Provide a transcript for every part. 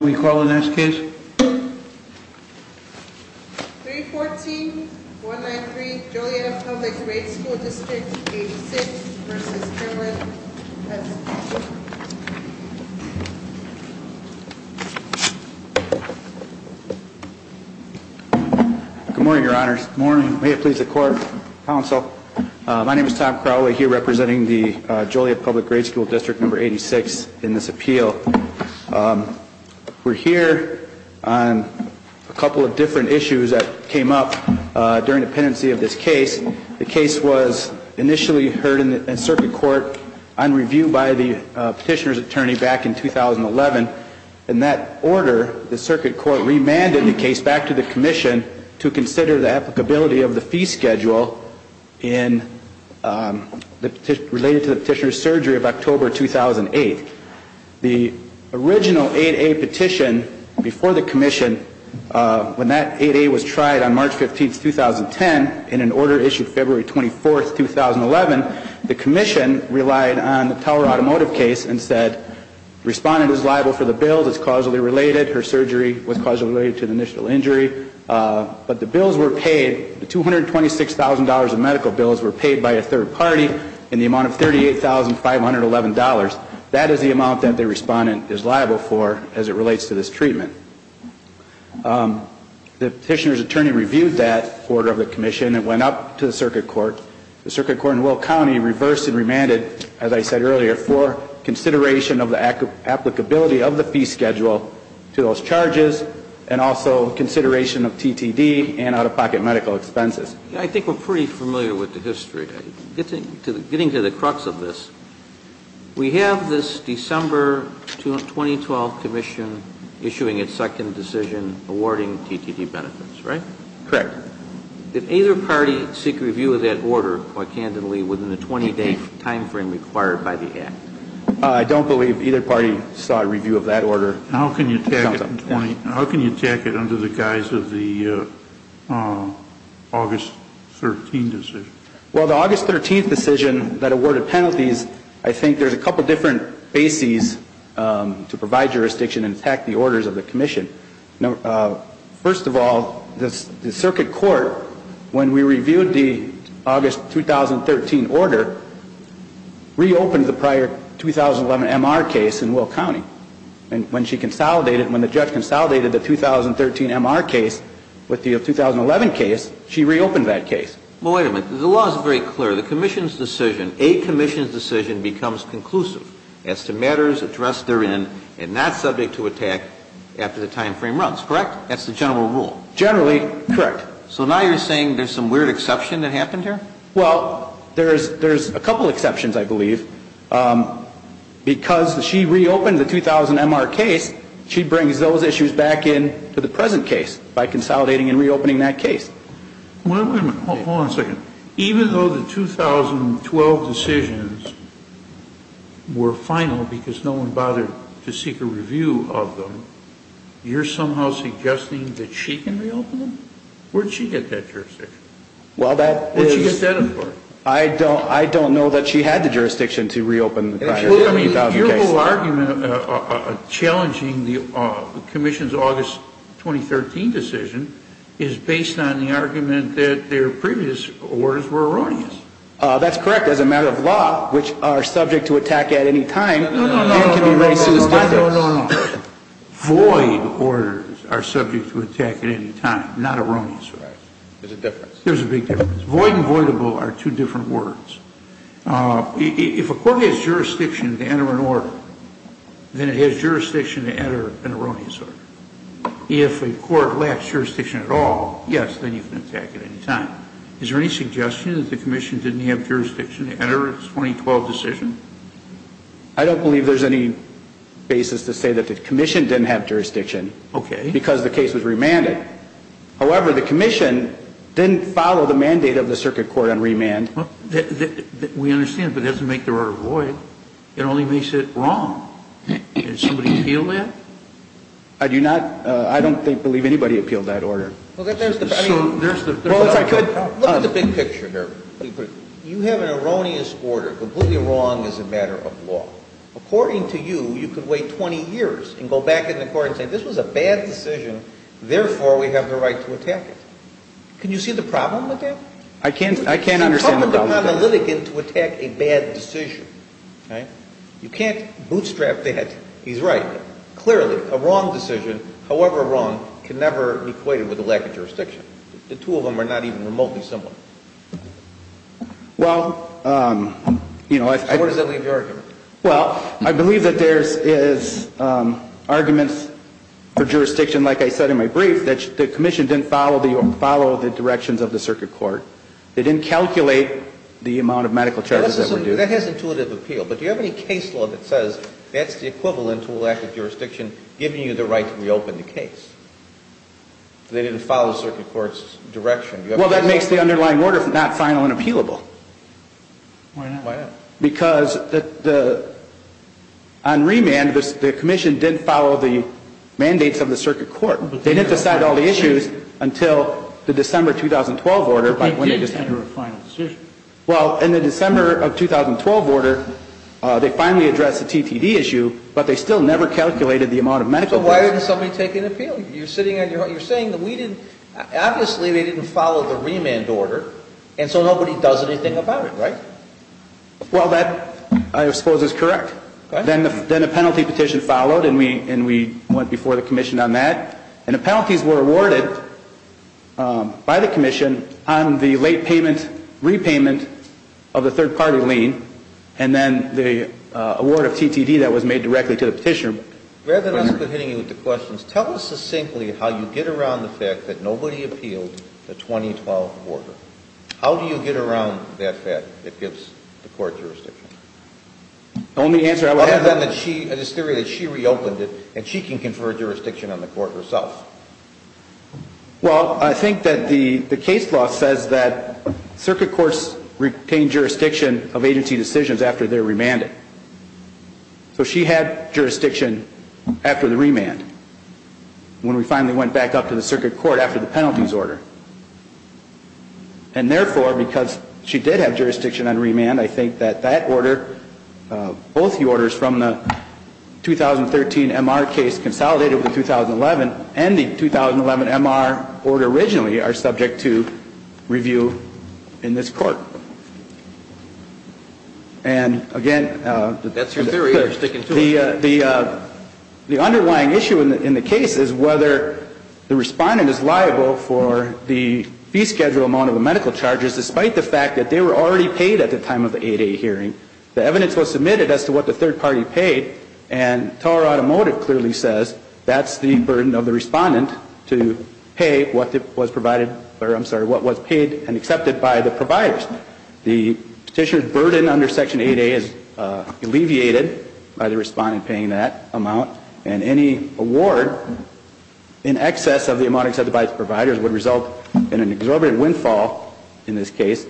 Can we call the next case? 314-193 Joliet Public Grade School District No. 86 v. Kimberlin, S.C. Good morning, Your Honors. Good morning. May it please the Court, Counsel. My name is Tom Crowley, here representing the Joliet Public Grade School District No. 86 in this appeal. We're here on a couple of different issues that came up during the pendency of this case. The case was initially heard in circuit court on review by the petitioner's attorney back in 2011. In that order, the circuit court remanded the case back to the Commission to consider the applicability of the fee schedule related to the petitioner's surgery of October 2008. The original 8A petition before the Commission, when that 8A was tried on March 15, 2010, in an order issued February 24, 2011, the Commission relied on the Tower Automotive case and said the respondent is liable for the bills, it's causally related, her surgery was causally related to the initial injury. But the bills were paid, the $226,000 in medical bills were paid by a third party in the amount of $38,511. That is the amount that the respondent is liable for as it relates to this treatment. The petitioner's attorney reviewed that order of the Commission and went up to the circuit court. The circuit court in Will County reversed and remanded, as I said earlier, for consideration of the applicability of the fee schedule to those charges and also consideration of TTD and out-of-pocket medical expenses. I think we're pretty familiar with the history. Getting to the crux of this, we have this December 2012 Commission issuing its second decision awarding TTD benefits, right? Correct. Did either party seek review of that order, quite candidly, within the 20-day timeframe required by the Act? I don't believe either party sought review of that order. How can you take it under the guise of the August 13 decision? Well, the August 13 decision that awarded penalties, I think there's a couple different bases to provide jurisdiction and attack the orders of the Commission. First of all, the circuit court, when we reviewed the August 2013 order, reopened the prior 2011 MR case in Will County. And when she consolidated, when the judge consolidated the 2013 MR case with the 2011 case, she reopened that case. Well, wait a minute. The law is very clear. The Commission's decision, a Commission's decision becomes conclusive as to matters addressed therein and not subject to attack after the timeframe runs, correct? That's the general rule. Generally, correct. So now you're saying there's some weird exception that happened here? Well, there's a couple exceptions, I believe. Because she reopened the 2000 MR case, she brings those issues back in to the present case by consolidating and reopening that case. Well, wait a minute. Hold on a second. Even though the 2012 decisions were final because no one bothered to seek a review of them, you're somehow suggesting that she can reopen them? Where'd she get that jurisdiction? Well, that is... Where'd she get that in part? I don't know that she had the jurisdiction to reopen the prior 2000 cases. The whole argument challenging the Commission's August 2013 decision is based on the argument that their previous orders were erroneous. That's correct. As a matter of law, which are subject to attack at any time... No, no, no. Void orders are subject to attack at any time, not erroneous. There's a difference. There's a big difference. Void and voidable are two different words. If a court has jurisdiction to enter an order, then it has jurisdiction to enter an erroneous order. If a court lacks jurisdiction at all, yes, then you can attack at any time. Is there any suggestion that the Commission didn't have jurisdiction to enter its 2012 decision? I don't believe there's any basis to say that the Commission didn't have jurisdiction. Okay. Because the case was remanded. However, the Commission didn't follow the mandate of the Circuit Court on remand. We understand, but it doesn't make the order void. It only makes it wrong. Did somebody appeal that? I don't believe anybody appealed that order. Look at the big picture here. You have an erroneous order, completely wrong as a matter of law. According to you, you could wait 20 years and go back in the court and say, this was a bad decision, therefore we have the right to attack it. Can you see the problem with that? I can't. I can't understand the problem with that. It's a problem for an analytic to attack a bad decision. Right? You can't bootstrap that. He's right. Clearly, a wrong decision, however wrong, can never be equated with a lack of jurisdiction. The two of them are not even remotely similar. Well, you know, I... Where does that leave the argument? Well, I believe that there is arguments for jurisdiction, like I said in my brief, that the commission didn't follow the directions of the circuit court. They didn't calculate the amount of medical charges that were due. That has intuitive appeal. But do you have any case law that says that's the equivalent to a lack of jurisdiction giving you the right to reopen the case? They didn't follow the circuit court's direction. Well, that makes the underlying order not final and appealable. Why not? Why not? Because on remand, the commission didn't follow the mandates of the circuit court. They didn't decide all the issues until the December 2012 order. But they did enter a final decision. Well, in the December of 2012 order, they finally addressed the TTD issue, but they still never calculated the amount of medical charges. So why didn't somebody take an appeal? You're saying that we didn't – obviously they didn't follow the remand order, and so nobody does anything about it, right? Well, that, I suppose, is correct. Then a penalty petition followed, and we went before the commission on that. And the penalties were awarded by the commission on the late payment, repayment of the third-party lien, and then the award of TTD that was made directly to the petitioner. Rather than us hitting you with the questions, tell us succinctly how you get around the fact that nobody appealed the 2012 order. How do you get around that fact that gives the court jurisdiction? The only answer I would have – Well, I think that the case law says that circuit courts retain jurisdiction of agency decisions after they're remanded. So she had jurisdiction after the remand, when we finally went back up to the circuit court after the penalties order. And therefore, because she did have jurisdiction on remand, I think that that order, the 2013 MR case consolidated with the 2011, and the 2011 MR order originally, are subject to review in this court. And, again – That's your theory. You're sticking to it. The underlying issue in the case is whether the respondent is liable for the fee schedule amount of the medical charges, despite the fact that they were already paid at the time of the 8A hearing. The evidence was submitted as to what the third party paid, and TOR Automotive clearly says that's the burden of the respondent to pay what was paid and accepted by the providers. The petitioner's burden under Section 8A is alleviated by the respondent paying that amount, and any award in excess of the amount accepted by the providers would result in an exorbitant windfall in this case.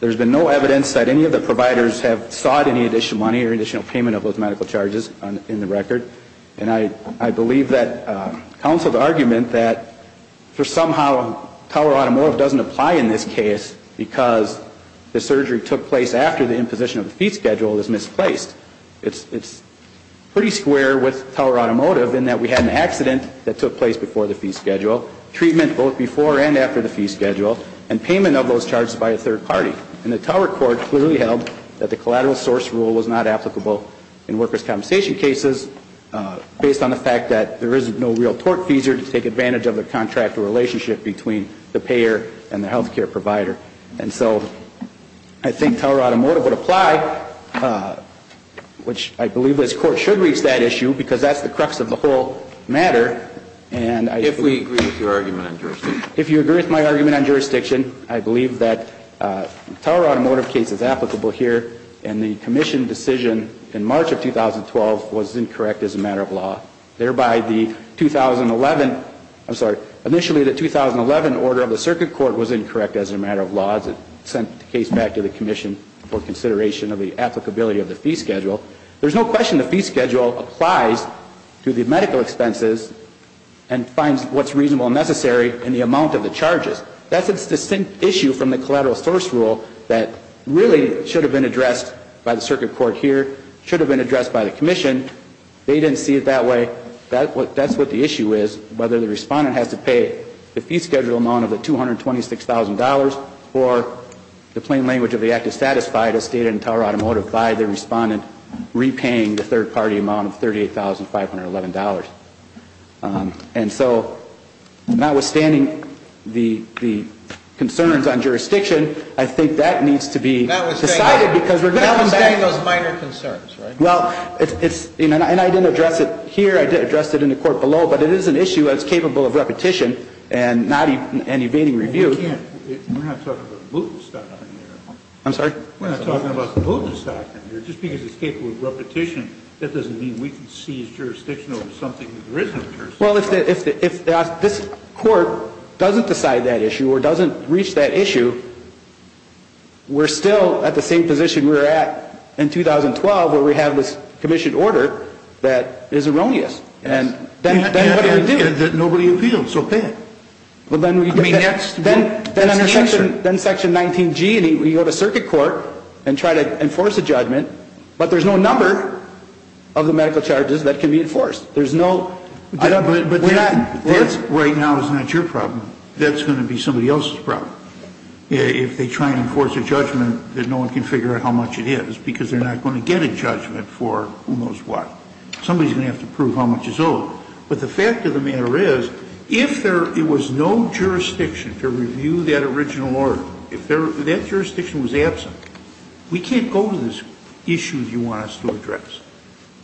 There's been no evidence that any of the providers have sought any additional money or additional payment of those medical charges in the record, and I believe that counsel's argument that somehow TOR Automotive doesn't apply in this case because the surgery took place after the imposition of the fee schedule is misplaced. It's pretty square with TOR Automotive in that we had an accident that took place before the fee schedule, treatment both before and after the fee schedule, and payment of those medical charges. the fee schedule and payment of those medical charges. And the TOR court clearly held that the collateral source rule was not applicable in workers' compensation cases based on the fact that there is no real tort fees or to take advantage of the contract or relationship between the payer and the healthcare provider. And so I think TOR Automotive would apply, which I believe this Court should reach that issue because that's the crux of the whole matter. And I... If we agree with your argument on jurisdiction. If you agree with my argument on jurisdiction, I believe that TOR Automotive case is applicable here, and the commission decision in March of 2012 was incorrect as a matter of law, thereby the 2011, I'm sorry, initially the 2011 order of the circuit court was incorrect as a matter of law. It sent the case back to the commission for consideration of the applicability of the fee schedule. There's no question the fee schedule applies to the medical expenses and finds what's reasonable and necessary in the amount of the charges. That's a distinct issue from the collateral source rule that really should have been addressed by the circuit court here, should have been addressed by the commission. They didn't see it that way. That's what the issue is, whether the respondent has to pay the fee schedule amount of the $226,000 or the plain language of the act is satisfied as stated in TOR Automotive by the respondent repaying the third-party amount of $38,511. And so notwithstanding the concerns on jurisdiction, I think that needs to be decided because we're going to... Notwithstanding those minor concerns, right? Well, it's... And I didn't address it here, I did address it in the court below, but it is an issue that's capable of repetition and not evading review. We're not talking about the boot and stock in here. I'm sorry? We're not talking about the boot and stock in here. Just because it's capable of repetition, that doesn't mean we can seize jurisdiction over something that there isn't jurisdiction over. Well, if this court doesn't decide that issue or doesn't reach that issue, we're still at the same position we were at in 2012 where we have this commission order that is erroneous. And then what do we do? Nobody appealed, so pay it. Well, then we... I mean, that's... Then Section 19G, you have a circuit court and try to enforce a judgment, but there's no number of the medical charges that can be enforced. There's no... But that right now is not your problem. That's going to be somebody else's problem. If they try and enforce a judgment that no one can figure out how much it is because they're not going to get a judgment for who knows what. Somebody's going to have to prove how much is owed. But the fact of the matter is, if there... It was no jurisdiction to review that original order. If that jurisdiction was absent, we can't go to this issue you want us to address.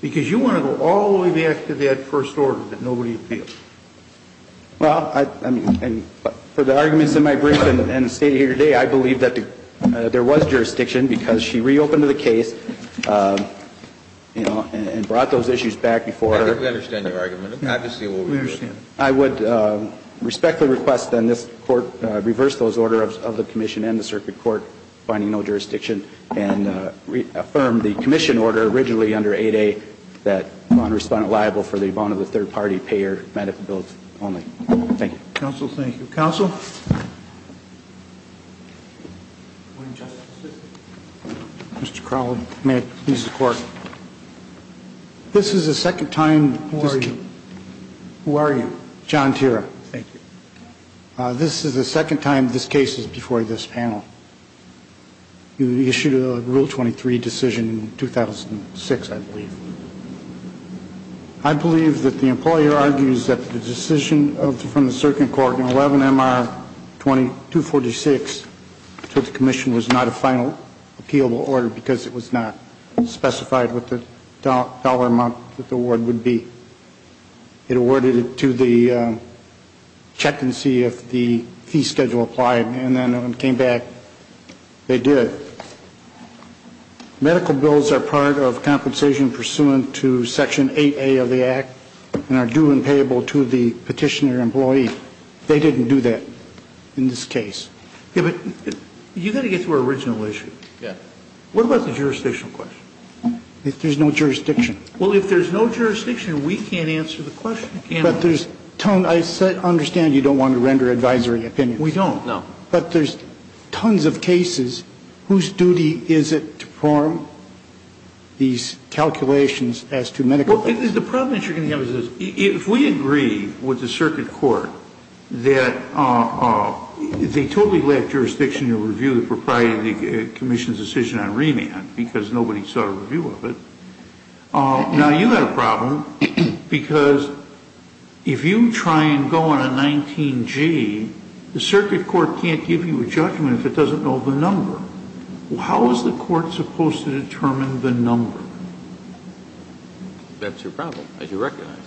Because you want to go all the way back to that first order that nobody appealed. Well, I... For the arguments in my brief and the state of the order today, I believe that there was I think we understand your argument. Obviously, we'll review it. We understand. I would respectfully request, then, this Court reverse those orders of the Commission and the circuit court, finding no jurisdiction, and reaffirm the Commission order originally under 8A that non-respondent liable for the amount of the third-party payer benefit bills only. Thank you. Counsel, thank you. Counsel? Good morning, Justice. Mr. Crowley, may it please the Court. This is the second time... Who are you? Who are you? John Tira. Thank you. This is the second time this case is before this panel. You issued a Rule 23 decision in 2006, I believe. I believe that the employer argues that the decision from the circuit court in 11MR 246 to the Commission was not a final appealable order because it was not specified what the dollar amount that the award would be. It awarded it to the check and see if the fee schedule applied, and then when it came back, they did. Medical bills are part of compensation pursuant to Section 8A of the Act and are due and payable to the petitioner employee. They didn't do that in this case. You've got to get to our original issue. What about the jurisdictional question? If there's no jurisdiction. Well, if there's no jurisdiction, we can't answer the question. I understand you don't want to render advisory opinions. We don't, no. But there's tons of cases whose duty is it to form these calculations as to medical bills. The problem that you're going to have is this. If we agree with the circuit court that they totally left jurisdiction to review the Proprietary Commission's decision on remand because nobody saw a review of it, now you've got a problem because if you try and go on a 19G, the circuit court can't give you a judgment if it doesn't know the number. How is the court supposed to determine the number? That's your problem, as you recognize.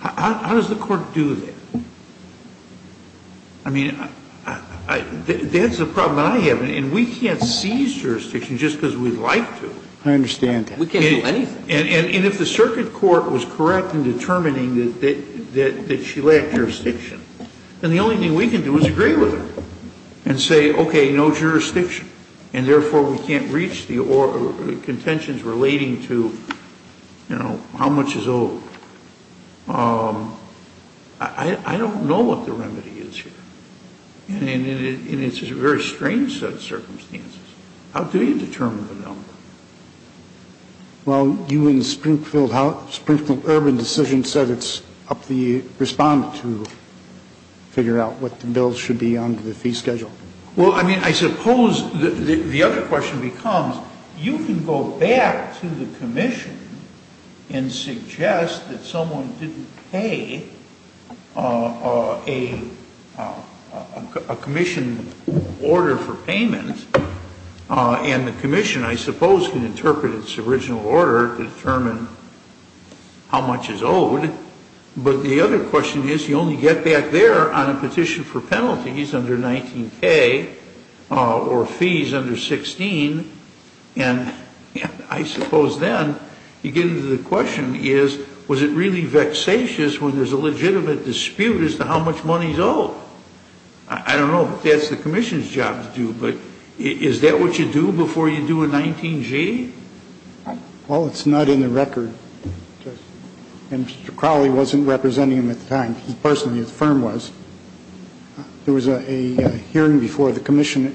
How does the court do that? I mean, that's the problem I have. And we can't seize jurisdiction just because we'd like to. I understand that. We can't do anything. And if the circuit court was correct in determining that she left jurisdiction, then the only thing we can do is agree with her and say, okay, no jurisdiction. And therefore, we can't reach the contentions relating to, you know, how much is owed. I don't know what the remedy is here. And it's a very strange set of circumstances. How do you determine the number? Well, you in Springfield Urban Decision said it's up to the respondent to figure out what the bills should be on the fee schedule. Well, I mean, I suppose the other question becomes, you can go back to the commission and suggest that someone didn't pay a commission order for payment, and the commission, I suppose, can interpret its original order to determine how much is owed. But the other question is, you only get back there on a petition for penalties under 19K or fees under 16. And I suppose then you get into the question is, was it really vexatious when there's a legitimate dispute as to how much money is owed? I don't know if that's the commission's job to do, but is that what you do before you do a 19G? Well, it's not in the record. And Mr. Crowley wasn't representing him at the time. He personally, his firm was. There was a hearing before the commission.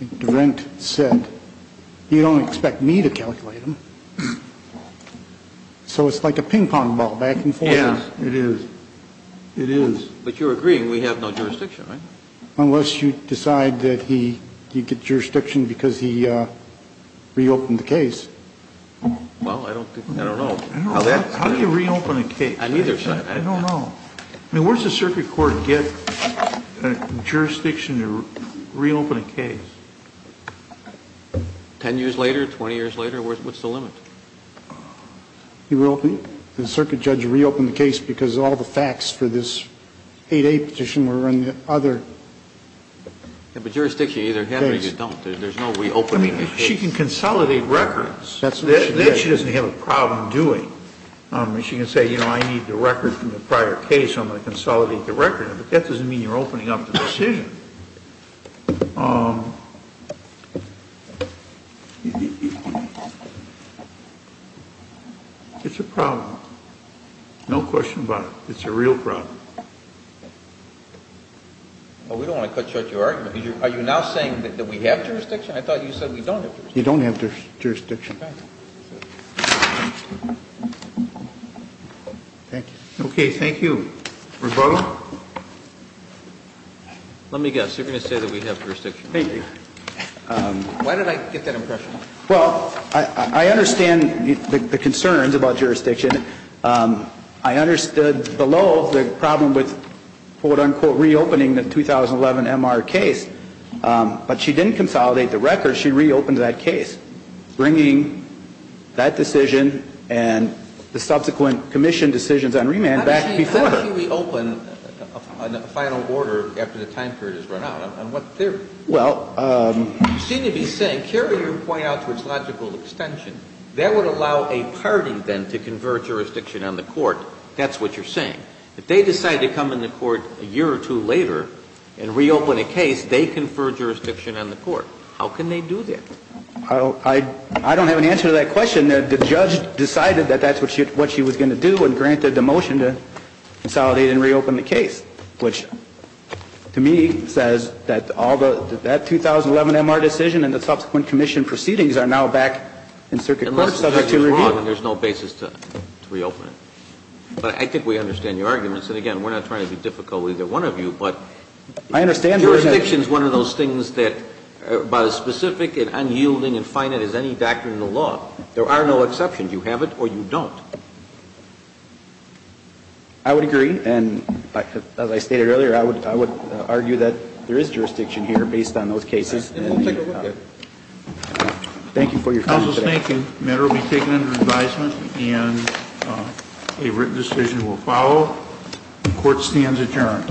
And DeRent said, you don't expect me to calculate them. So it's like a ping-pong ball back and forth. Yeah, it is. It is. But you're agreeing we have no jurisdiction, right? Unless you decide that he gets jurisdiction because he reopened the case. Well, I don't know. How do you reopen a case? I don't know. I mean, where does a circuit court get jurisdiction to reopen a case? 10 years later, 20 years later, what's the limit? He reopened it? Did the circuit judge reopen the case because all the facts for this 8A petition were in the other case? Yeah, but jurisdiction you either have or you just don't. There's no reopening the case. I mean, she can consolidate records. That she doesn't have a problem doing. I mean, she can say, you know, I need the record from the prior case. I'm going to consolidate the record. But that doesn't mean you're opening up the decision. It's a problem. No question about it. It's a real problem. Well, we don't want to cut short your argument. Are you now saying that we have jurisdiction? I thought you said we don't have jurisdiction. You don't have jurisdiction. Okay. Rebuttal? Let me just say, I'm not going to say anything. Let me guess. You're going to say that we have jurisdiction. Thank you. Why did I get that impression? Well, I understand the concerns about jurisdiction. I understood below the problem with quote-unquote reopening the 2011 MR case. But she didn't consolidate the record. She reopened that case, bringing that decision and the subsequent commission decisions on remand back before her. Why did she reopen a final order after the time period has run out? On what theory? Well. You seem to be saying, carry your point out to its logical extension. That would allow a party, then, to confer jurisdiction on the court. That's what you're saying. If they decide to come into court a year or two later and reopen a case, they confer jurisdiction on the court. How can they do that? I don't have an answer to that question. And the judge decided that that's what she was going to do and granted the motion to consolidate and reopen the case, which, to me, says that all the 2011 MR decision and the subsequent commission proceedings are now back in circuit court subject to review. Unless the judge is wrong and there's no basis to reopen it. But I think we understand your arguments. And, again, we're not trying to be difficult with either one of you. But jurisdiction is one of those things that, by the specific and unyielding and finite as any doctrine in the law, there are no exceptions. You have it or you don't. I would agree. And as I stated earlier, I would argue that there is jurisdiction here based on those cases. And we'll take a look at it. Thank you for your time today. Counsel's thinking. The matter will be taken under advisement and a written decision will follow. The court stands adjourned.